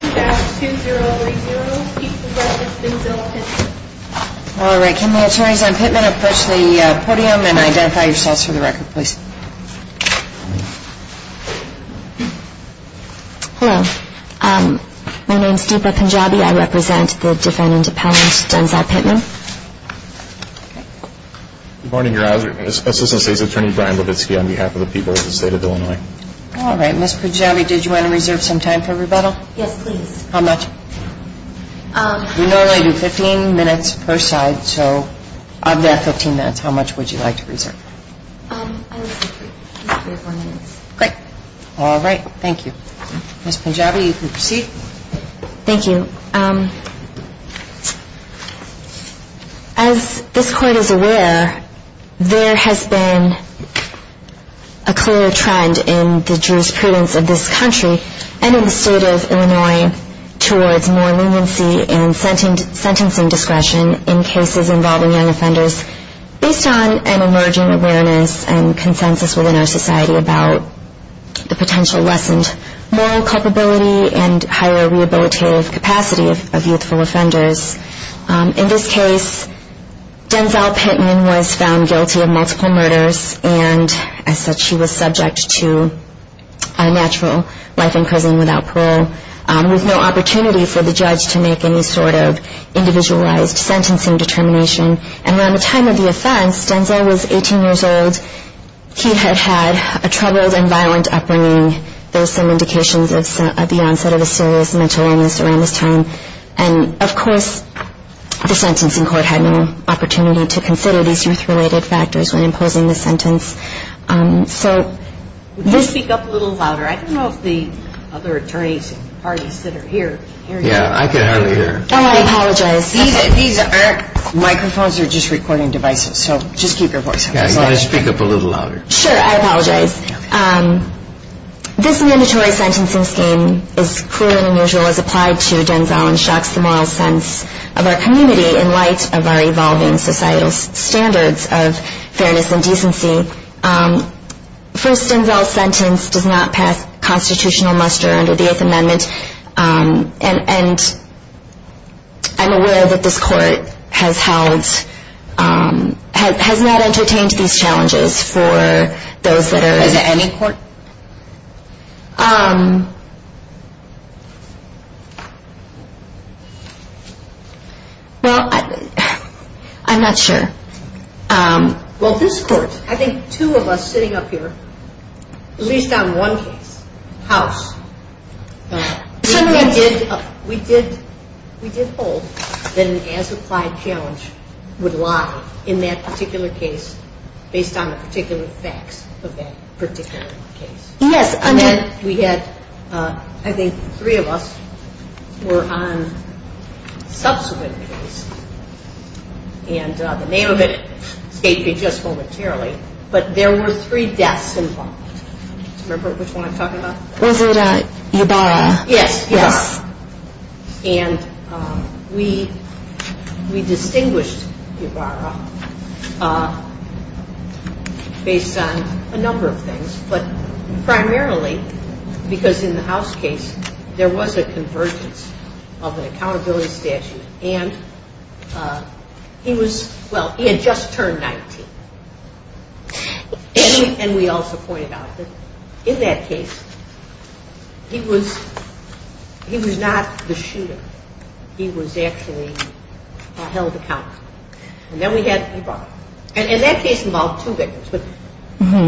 All right. Can the attorneys on Pitman approach the podium and identify yourselves for the record, please? Hello. My name is Deepa Punjabi. I represent the defendant Appellant Denzel Pitman. Good morning, Your Honor. This is Assistant State's Attorney Brian Levitsky on behalf of the people of the State of Illinois. All right. Ms. Punjabi, did you want to reserve some time for rebuttal? Yes, please. How much? We normally do 15 minutes per side, so of that 15 minutes, how much would you like to reserve? I would say three or four minutes. Great. All right. Thank you. Ms. Punjabi, you can proceed. Thank you. As this Court is aware, there has been a clear trend in the jurisprudence of this country and in the State of Illinois towards more leniency and sentencing discretion in cases involving young offenders based on an emerging awareness and consensus within our society about the potential lessened moral culpability and higher rehabilitative capacity of youthful offenders. In this case, Denzel Pitman was found guilty of multiple murders, and as such, she was subject to a natural life in prison without parole, with no opportunity for the judge to make any sort of individualized sentencing determination. And around the time of the offense, Denzel was 18 years old. He had had a troubled and violent upbringing. There are some indications of the onset of a serious mental illness around this time. And, of course, the sentencing court had no opportunity to consider these youth-related factors when imposing the sentence. Would you speak up a little louder? I don't know if the other attorneys and parties that are here can hear you. Yeah, I can hardly hear. Oh, I apologize. These aren't microphones. They're just recording devices. So just keep your voice down as loud as you can. Yeah, you've got to speak up a little louder. Sure. I apologize. This mandatory sentencing scheme is cruel and unusual as applied to Denzel and shocks the moral sense of our community in light of our evolving societal standards of fairness and decency. First, Denzel's sentence does not pass constitutional muster under the Eighth Amendment. And I'm aware that this court has held, has not entertained these challenges for those that are Has any court? Well, I'm not sure. Well, this court, I think two of us sitting up here, at least on one case, House, we did hold that an as-applied challenge would lie in that particular case based on the particular facts of that particular case. Yes. And then we had, I think three of us were on a subsequent case, and the name of it escaped me just momentarily, but there were three deaths involved. Remember which one I'm talking about? Was it Ybarra? Yes. Yes. It was Ybarra. And we distinguished Ybarra based on a number of things, but primarily because in the House case there was a convergence of an accountability statute and he was, well, he had just turned 19. And we also pointed out that in that case he was, he was not the shooter. He was actually held accountable. And then we had Ybarra. And that case involved two victims, but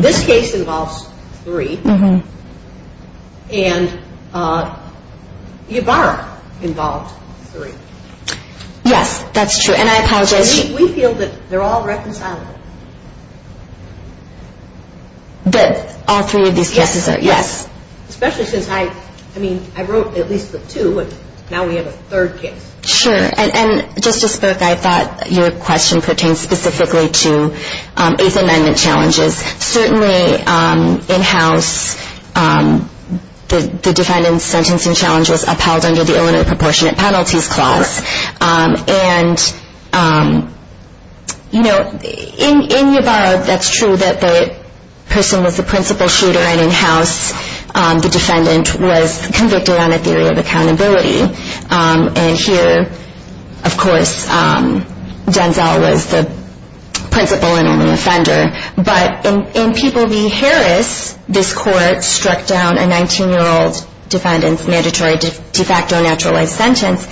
this case involves three. And Ybarra involved three. Yes, that's true. And I apologize. We feel that they're all reconcilable. That all three of these cases are? Yes. Especially since I, I mean, I wrote at least the two, and now we have a third case. Sure. And Justice Burke, I thought your question pertained specifically to Eighth Amendment challenges. Certainly in House the defendant's sentencing challenge was upheld under the You know, in, in Ybarra, that's true that the person was the principal shooter and in House the defendant was convicted on a theory of accountability. And here, of course, Denzel was the principal and only offender. But in, in People v. Harris, this court struck down a 19-year-old defendant's mandatory de facto naturalized sentence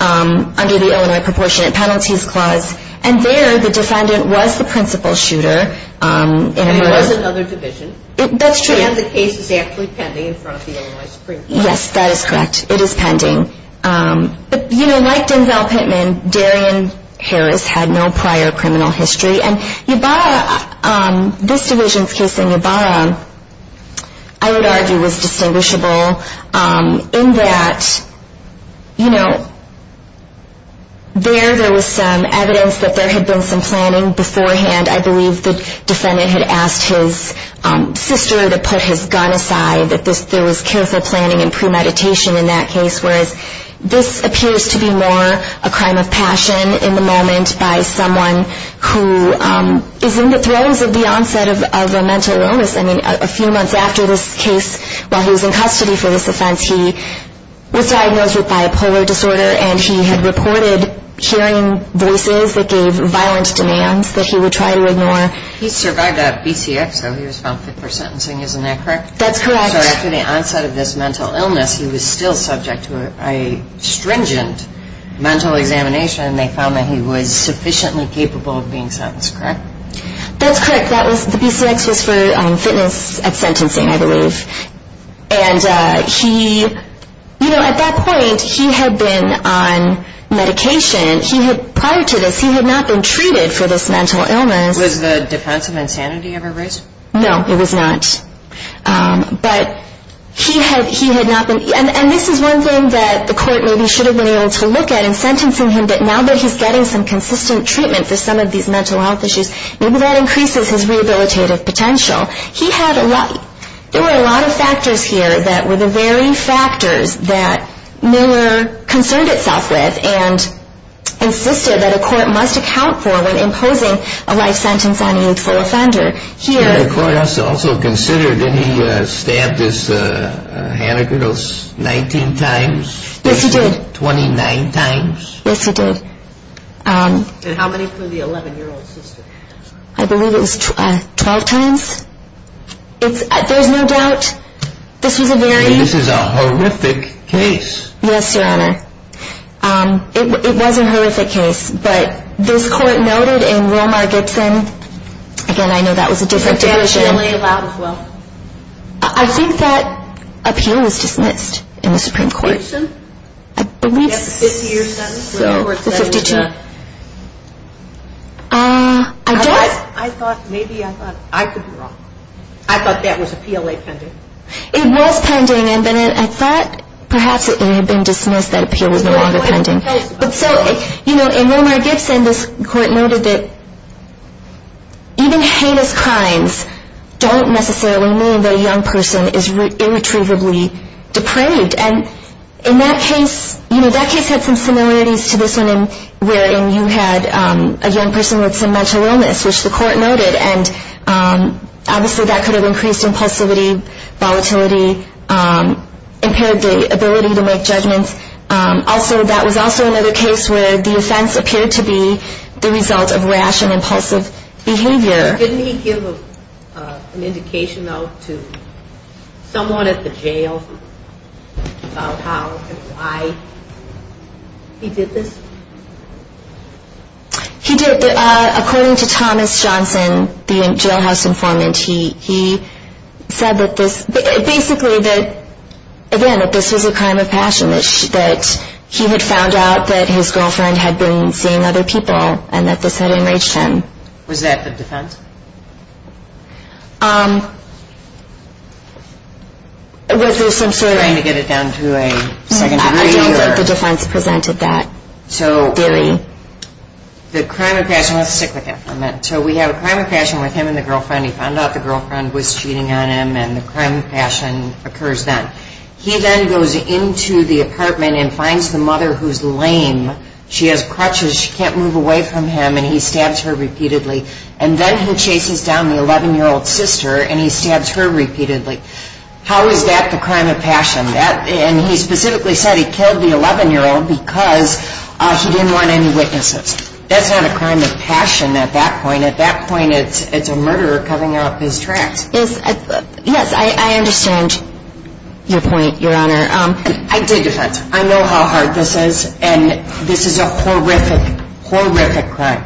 under the Illinois Proportionate Penalties Clause. And there, the defendant was the principal shooter. And it was another division. That's true. And the case is actually pending in front of the Illinois Supreme Court. Yes, that is correct. It is pending. But, you know, like Denzel Pittman, Darian Harris had no prior criminal history. And Ybarra, this division's case in Ybarra, I would argue, was distinguishable in that, you know, there, there was some evidence that there had been some planning beforehand. I believe the defendant had asked his sister to put his gun aside, that there was careful planning and premeditation in that case, whereas this appears to be more a crime of passion in the moment by someone who is in the thrones of the onset of a mental illness. I mean, a few months after this case, while he was in custody for this offense, he was diagnosed with bipolar disorder. And he had reported hearing voices that gave violent demands that he would try to ignore. He survived a BCX, though. He was found fit for sentencing. Isn't that correct? That's correct. So after the onset of this mental illness, he was still subject to a stringent mental examination. And they found that he was sufficiently capable of being sentenced. Correct? That's correct. That was, the BCX was for fitness at sentencing, I believe. And he, you know, at that point, he had been on medication. He had, prior to this, he had not been treated for this mental illness. Was the defense of insanity ever raised? No, it was not. But he had, he had not been, and, and this is one thing that the court maybe should have been able to look at in sentencing him, that now that he's getting some mental health issues, maybe that increases his rehabilitative potential. He had a lot, there were a lot of factors here that were the very factors that Miller concerned itself with, and insisted that a court must account for when imposing a life sentence on a youthful offender. Here... And the court also considered, didn't he stab this Hannigan, those 19 times? Yes, he did. 29 times? Yes, he did. And how many for the 11-year-old sister? I believe it was 12 times. It's, there's no doubt, this was a very... And this is a horrific case. Yes, Your Honor. It was a horrific case, but this court noted in Romar-Gibson, again, I know that was a different division... But they were generally allowed as well. I think that appeal was dismissed in the Supreme Court. Gibson? I believe so. The Supreme Court said it was a... I don't... I thought, maybe I thought, I could be wrong. I thought that was appeal pending. It was pending, and then I thought perhaps it had been dismissed that appeal was no longer pending. But so, you know, in Romar-Gibson, this court noted that even heinous crimes don't necessarily mean that a young person is irretrievably depraved. And in that case, you know, that case had some similarities to this one in wherein you had a young person with some mental illness, which the court noted. And obviously that could have increased impulsivity, volatility, impaired the ability to make judgments. Also, that was also another case where the offense appeared to be the result of rash and impulsive behavior. Didn't he give an indication, though, to someone at the jail about how and why he did this? He did. According to Thomas Johnson, the jailhouse informant, he said that this... basically that, again, that this was a crime of passion, that he had found out that his girlfriend had been seeing other people and that this had enraged him. Was that the defense? Was there some sort of... Trying to get it down to a second degree or... No, I don't think the defense presented that. So the crime of passion... Let's stick with that for a minute. So we have a crime of passion with him and the girlfriend. He found out the girlfriend was cheating on him, and the crime of passion occurs then. He then goes into the apartment and finds the mother who's lame. She has crutches. She can't move away from him, and he stabs her repeatedly. And then he chases down the 11-year-old sister, and he stabs her repeatedly. How is that the crime of passion? And he specifically said he killed the 11-year-old because he didn't want any witnesses. That's not a crime of passion at that point. At that point, it's a murderer covering up his tracks. Yes, I understand your point, Your Honor. I did defense. I know how hard this is, and this is a horrific, horrific crime.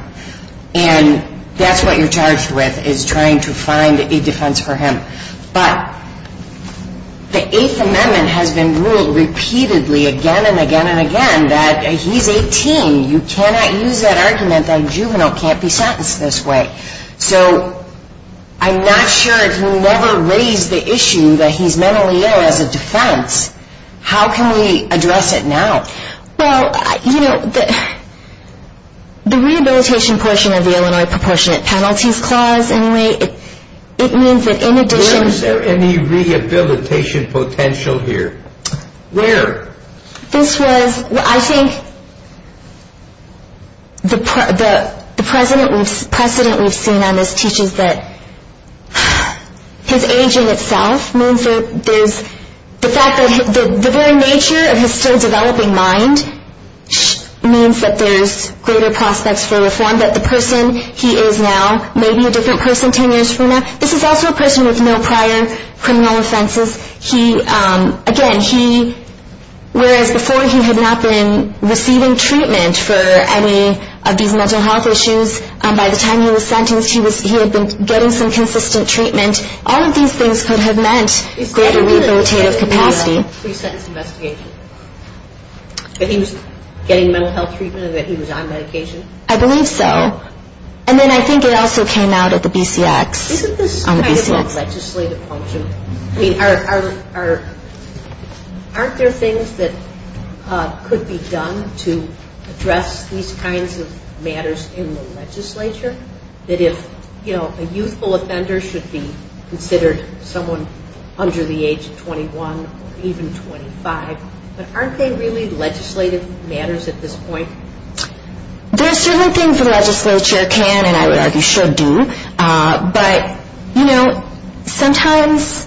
And that's what you're charged with is trying to find a defense for him. But the Eighth Amendment has been ruled repeatedly again and again and again that he's 18. You cannot use that argument that a juvenile can't be sentenced this way. So I'm not sure if you never raised the issue that he's mentally ill as a defense. How can we address it now? Well, you know, the rehabilitation portion of the Illinois Proportionate Penalties Clause, anyway, it means that in addition to... Where is there any rehabilitation potential here? Where? This was, I think, the precedent we've seen on this teaches that his aging itself means that there's the very nature of his still-developing mind means that there's greater prospects for reform, that the person he is now may be a different person 10 years from now. This is also a person with no prior criminal offenses. Again, whereas before he had not been receiving treatment for any of these mental health issues, by the time he was sentenced, he had been getting some consistent treatment. All of these things could have meant greater rehabilitative capacity. He said that he was getting a three-sentence investigation. That he was getting mental health treatment and that he was on medication? I believe so. And then I think it also came out at the BCX. Isn't this kind of a legislative function? I mean, aren't there things that could be done to address these kinds of matters in the legislature? That if, you know, a youthful offender should be considered someone under the age of 21 or even 25. But aren't they really legislative matters at this point? There are certain things the legislature can and I would argue should do. But, you know, sometimes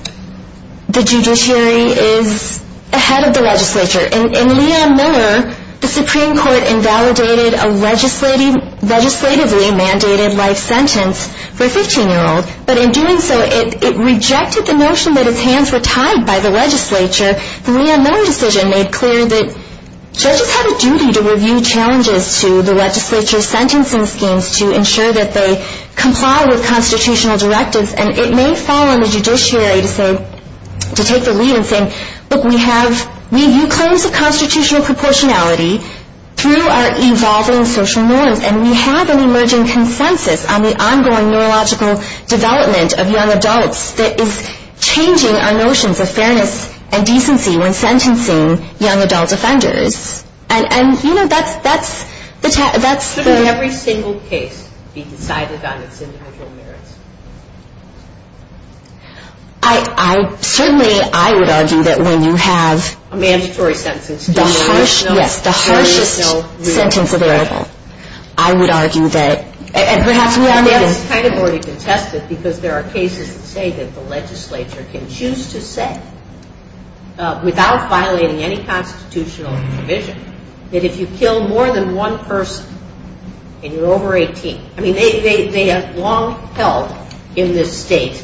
the judiciary is ahead of the legislature. In Leon Miller, the Supreme Court invalidated a legislatively mandated life sentence for a 15-year-old. But in doing so, it rejected the notion that his hands were tied by the legislature. The Leon Miller decision made clear that judges have a duty to review challenges to the legislature's sentencing schemes to ensure that they comply with constitutional directives. And it may fall on the judiciary to say, to take the lead in saying, look, we have review claims of constitutional proportionality through our evolving social norms. And we have an emerging consensus on the ongoing neurological development of young adults that is changing our notions of fairness and decency when sentencing young adult offenders. And, you know, that's the... Shouldn't every single case be decided on its individual merits? I certainly, I would argue that when you have... A mandatory sentence. Yes, the harshest sentence available. I would argue that... And perhaps Leon Miller... That's kind of already contested because there are cases that say that the legislature can choose to say, without violating any constitutional provision, that if you kill more than one person and you're over 18... I mean, they have long held in this state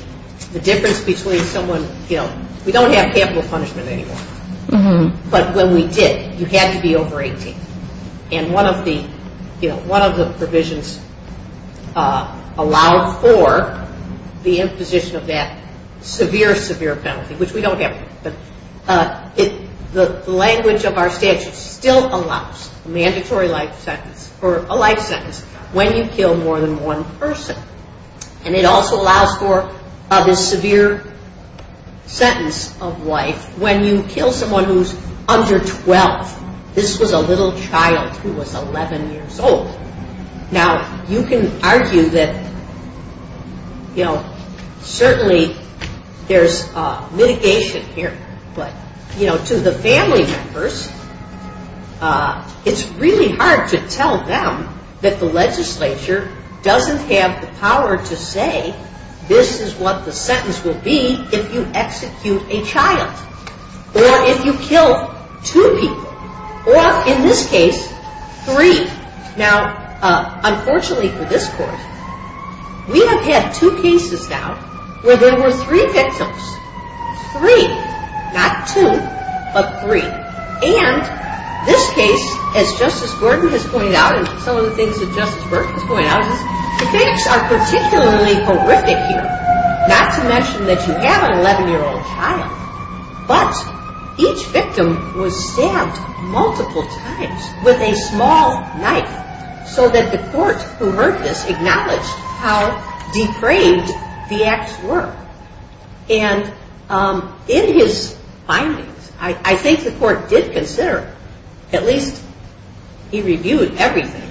the difference between someone killed... We don't have capital punishment anymore. But when we did, you had to be over 18. And one of the provisions allowed for the imposition of that severe, severe penalty, which we don't have anymore. But the language of our statute still allows a mandatory life sentence or a life sentence when you kill more than one person. And it also allows for this severe sentence of life when you kill someone who's under 12. This was a little child who was 11 years old. Now, you can argue that certainly there's mitigation here. But to the family members, it's really hard to tell them that the legislature doesn't have the power to say, this is what the sentence will be if you execute a child. Or if you kill two people. Or, in this case, three. Now, unfortunately for this court, we have had two cases now where there were three victims. Three. Not two, but three. And this case, as Justice Gordon has pointed out, and some of the things that Justice Burke has pointed out, is the facts are particularly horrific here. Not to mention that you have an 11-year-old child. But each victim was stabbed multiple times with a small knife so that the court who heard this acknowledged how depraved the acts were. And in his findings, I think the court did consider, at least he reviewed everything.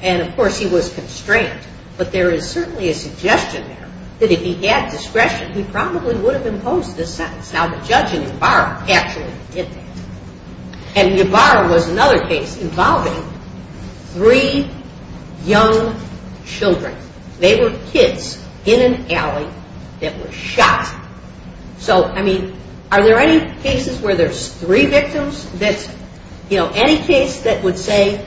And, of course, he was constrained. But there is certainly a suggestion there that if he had discretion, he probably would have imposed this sentence. Now, the judge in Ybarra actually did that. And Ybarra was another case involving three young children. They were kids in an alley that were shot. So, I mean, are there any cases where there's three victims that, you know, any case that would say?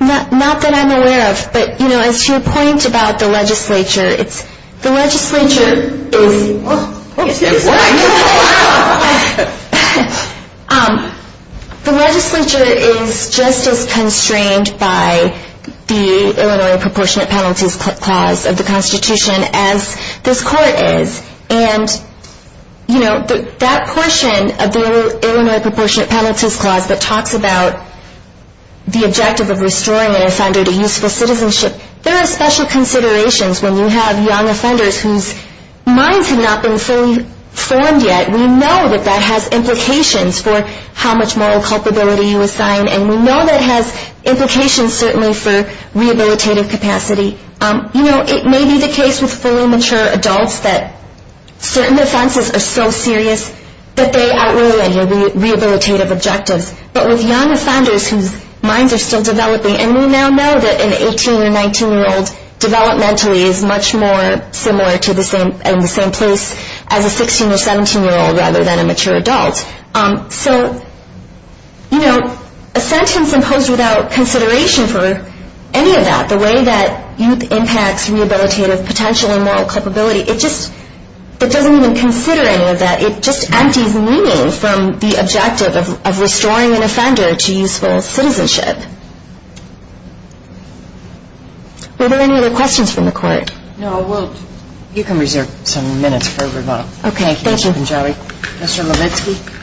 Not that I'm aware of. But, you know, as to your point about the legislature, the legislature is just as constrained by the Illinois Proportionate Penalties Clause of the Constitution as this court is. And, you know, that portion of the Illinois Proportionate Penalties Clause that talks about the objective of restoring an offender to useful citizenship, there are special considerations when you have young offenders whose minds have not been fully formed yet. We know that that has implications for how much moral culpability you assign. And we know that it has implications certainly for rehabilitative capacity. You know, it may be the case with fully mature adults that certain offenses are so serious that they outweigh any rehabilitative objectives. But with young offenders whose minds are still developing, and we now know that an 18- or 19-year-old developmentally is much more similar to the same place as a 16- or 17-year-old rather than a mature adult. So, you know, a sentence imposed without consideration for any of that, the way that youth impacts rehabilitative potential and moral culpability, it just doesn't even consider any of that. It just empties meaning from the objective of restoring an offender to useful citizenship. Were there any other questions from the Court? No, I won't. You can reserve some minutes for rebuttal. Okay, thank you. Thank you, Ms. Benjawi. Mr. Levitsky.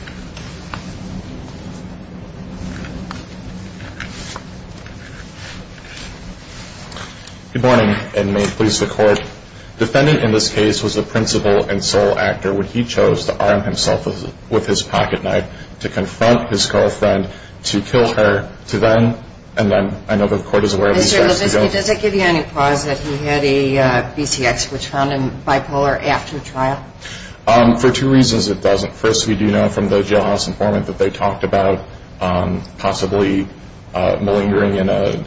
Good morning, and may it please the Court. Defending in this case was the principal and sole actor when he chose to arm himself with his pocketknife to confront his girlfriend, to kill her, to them, and then I know the Court is aware of these facts. Mr. Levitsky, does that give you any cause that he had a BCX, which found him bipolar, after trial? For two reasons it doesn't. First, we do know from the jailhouse informant that they talked about possibly malingering in a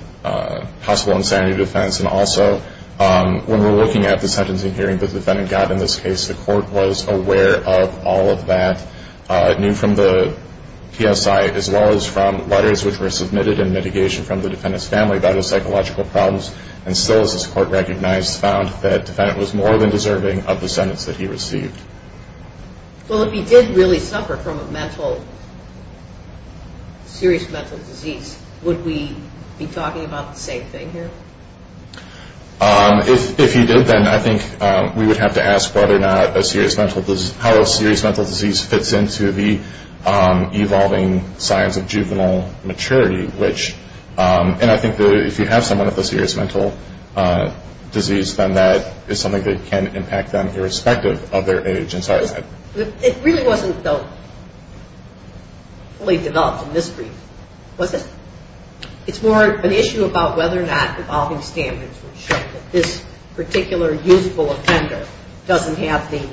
possible insanity defense, and also when we're looking at the sentencing hearing that the defendant got in this case, the Court was aware of all of that, knew from the PSI as well as from letters which were submitted in mitigation from the defendant's family about his psychological problems, and still, as this Court recognized, found that the defendant was more than deserving of the sentence that he received. Well, if he did really suffer from a mental, serious mental disease, would we be talking about the same thing here? If he did, then I think we would have to ask whether or not a serious mental disease, how a serious mental disease fits into the evolving signs of juvenile maturity, which, and I think that if you have someone with a serious mental disease, then that is something that can impact them irrespective of their age. It really wasn't fully developed in this brief, was it? It's more an issue about whether or not evolving standards would show that this particular usable offender doesn't have the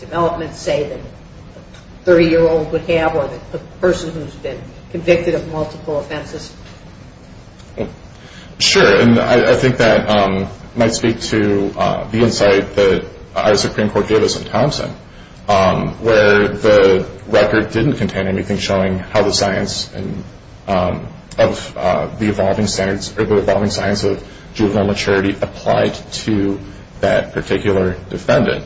development, say, that a 30-year-old would have or the person who's been convicted of multiple offenses. Sure, and I think that might speak to the insight that our Supreme Court gave us in Thompson, where the record didn't contain anything showing how the science of the evolving standards, or the evolving signs of juvenile maturity applied to that particular defendant.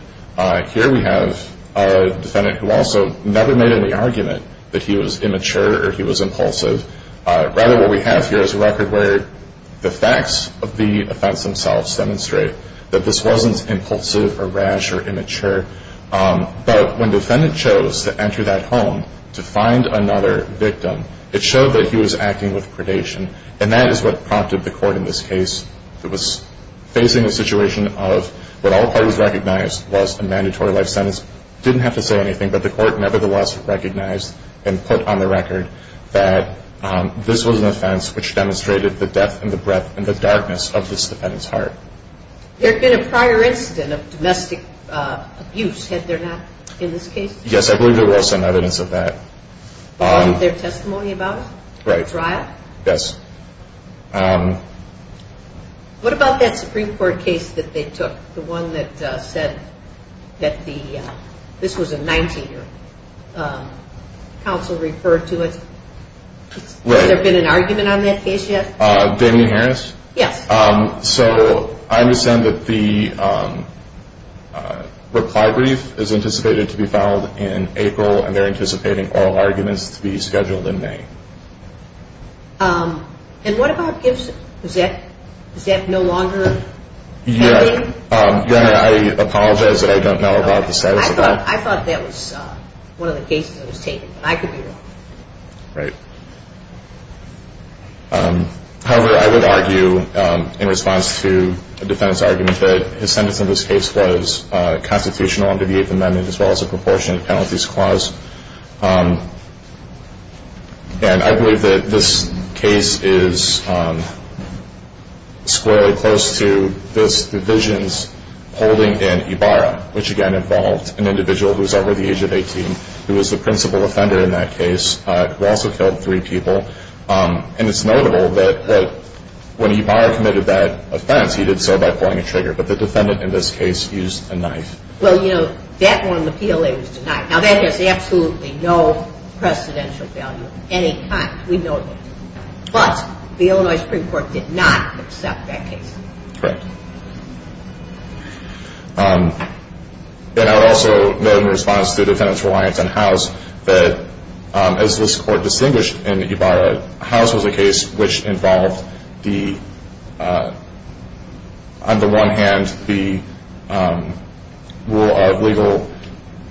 Here we have a defendant who also never made any argument that he was immature or he was impulsive, rather what we have here is a record where the facts of the offense themselves demonstrate that this wasn't impulsive or rash or immature, but when the defendant chose to enter that home to find another victim, it showed that he was acting with predation, and that is what prompted the court in this case. It was facing a situation of what all parties recognized was a mandatory life sentence. Didn't have to say anything, but the court nevertheless recognized and put on the record that this was an offense which demonstrated the depth and the breadth and the darkness of this defendant's heart. There had been a prior incident of domestic abuse, had there not, in this case? Yes, I believe there was some evidence of that. But wasn't there testimony about it? Right. A trial? Yes. What about that Supreme Court case that they took, the one that said that the – counsel referred to it? Right. Has there been an argument on that case yet? Damien Harris? Yes. So I understand that the reply brief is anticipated to be filed in April, and they're anticipating oral arguments to be scheduled in May. And what about Gibbs – is that no longer pending? Yes. I apologize that I don't know about the status of that. I thought that was one of the cases that was taken, but I could be wrong. Right. However, I would argue in response to the defendant's argument that his sentence in this case was constitutional under the Eighth Amendment as well as a proportionate penalties clause. And I believe that this case is squarely close to this division's holding in Ibarra, which, again, involved an individual who was over the age of 18 who was the principal offender in that case who also killed three people. And it's notable that when Ibarra committed that offense, he did so by pulling a trigger, but the defendant in this case used a knife. Well, you know, that one, the PLA was denied. Now, that has absolutely no precedential value of any kind. We know that. But the Illinois Supreme Court did not accept that case. Correct. And I would also note in response to the defendant's reliance on House that as this Court distinguished in Ibarra, House was a case which involved on the one hand the rule of legal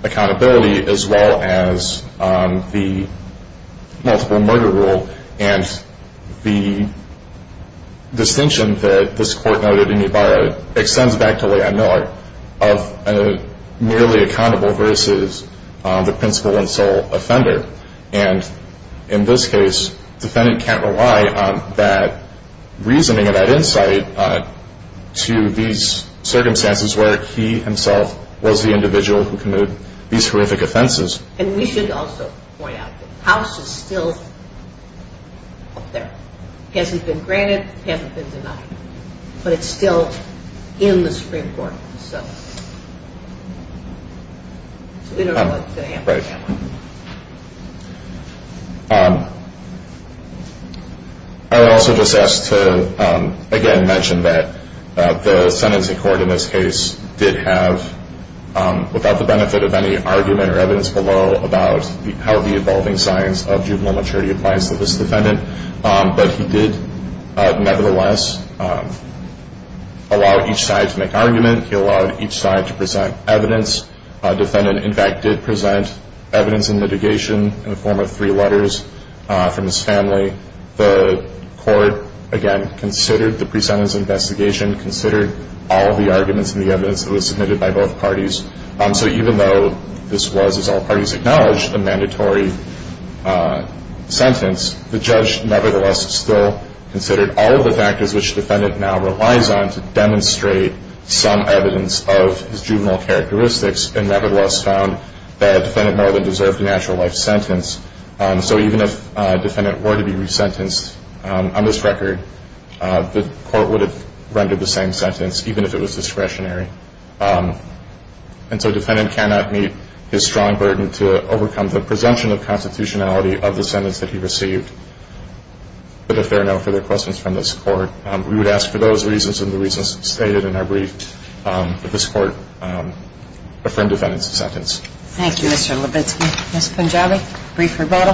accountability as well as the multiple murder rule. And the distinction that this Court noted in Ibarra extends back to Leigh Ann Miller of merely accountable versus the principal and sole offender. And in this case, defendant can't rely on that reasoning and that insight to these circumstances where he himself was the individual who committed these horrific offenses. And we should also point out that House is still up there. It hasn't been granted. It hasn't been denied. But it's still in the Supreme Court. So we don't know what's going to happen. Right. I would also just ask to, again, mention that the sentencing court in this case did have, without the benefit of any argument or evidence below, about how the evolving science of juvenile maturity applies to this defendant. But he did nevertheless allow each side to make argument. He allowed each side to present evidence. Defendant, in fact, did present evidence in mitigation in the form of three letters from his family. The court, again, considered the pre-sentence investigation, considered all of the arguments and the evidence that was submitted by both parties. So even though this was, as all parties acknowledged, a mandatory sentence, the judge nevertheless still considered all of the factors which defendant now relies on to demonstrate some evidence of his juvenile characteristics and nevertheless found that defendant more than deserved a natural life sentence. So even if defendant were to be resentenced on this record, the court would have rendered the same sentence even if it was discretionary. And so defendant cannot meet his strong burden to overcome the presumption of constitutionality of the sentence that he received. But if there are no further questions from this court, we would ask for those reasons and the reasons stated in our brief that this court affirm defendant's sentence. Thank you, Mr. Levitsky. Ms. Punjabi, brief rebuttal.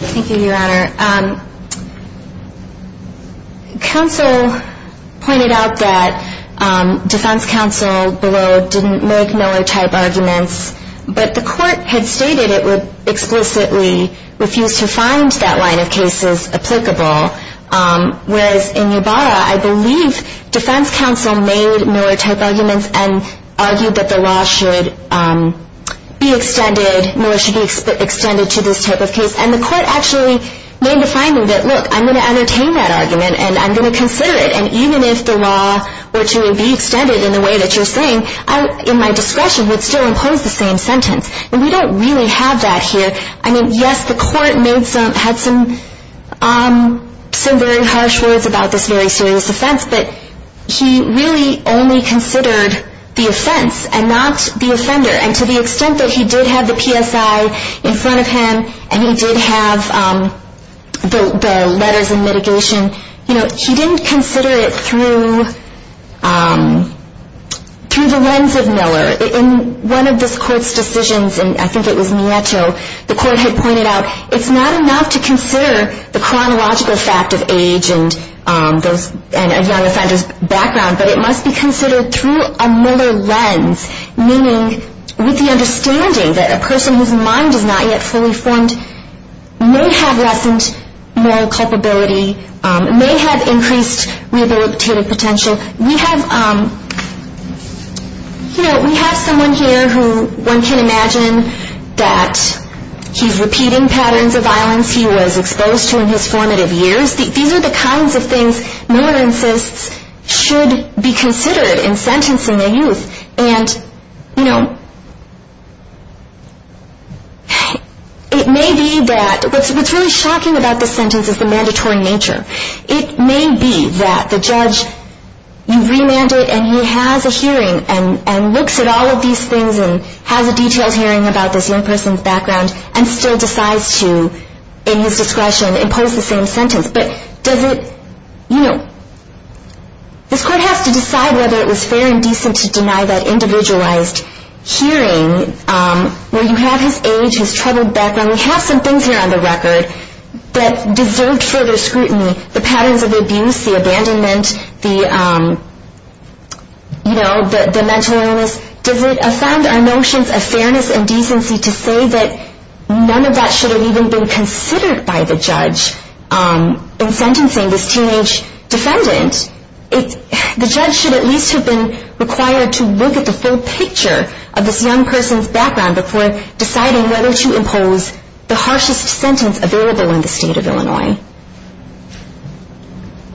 Thank you, Your Honor. Counsel pointed out that defense counsel below didn't make Miller-type arguments, but the court had stated it would explicitly refuse to find that line of cases applicable, whereas in Yabara, I believe defense counsel made Miller-type arguments and argued that the law should be extended, Miller should be extended to this type of case. And the court actually made a finding that, look, I'm going to entertain that argument and I'm going to consider it. And even if the law were to be extended in the way that you're saying, in my discretion would still impose the same sentence. And we don't really have that here. I mean, yes, the court had some very harsh words about this very serious offense, but he really only considered the offense and not the offender. And to the extent that he did have the PSI in front of him and he did have the letters of mitigation, he didn't consider it through the lens of Miller. In one of this court's decisions, and I think it was Nieto, the court had pointed out it's not enough to consider the chronological fact of age and a young offender's background, but it must be considered through a Miller lens, meaning with the understanding that a person whose mind is not yet fully formed may have lessened moral culpability, may have increased rehabilitative potential. We have someone here who one can imagine that he's repeating patterns of violence he was exposed to in his formative years. These are the kinds of things Miller insists should be considered in sentencing a youth. And, you know, it may be that what's really shocking about this sentence is the mandatory nature. It may be that the judge, you remand it and he has a hearing and looks at all of these things and has a detailed hearing about this young person's background and still decides to, in his discretion, impose the same sentence. But does it, you know, this court has to decide whether it was fair and decent to deny that individualized hearing where you have his age, his troubled background, we have some things here on the record that deserved further scrutiny, the patterns of abuse, the abandonment, the mental illness. Does it offend our notions of fairness and decency to say that none of that should have even been considered by the judge in sentencing this teenage defendant? The judge should at least have been required to look at the full picture of this young person's background before deciding whether to impose the harshest sentence available in the state of Illinois.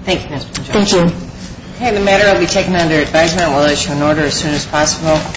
Thank you, Ms. Boncillo. Thank you. Okay, the matter will be taken under advisement. We'll issue an order as soon as possible.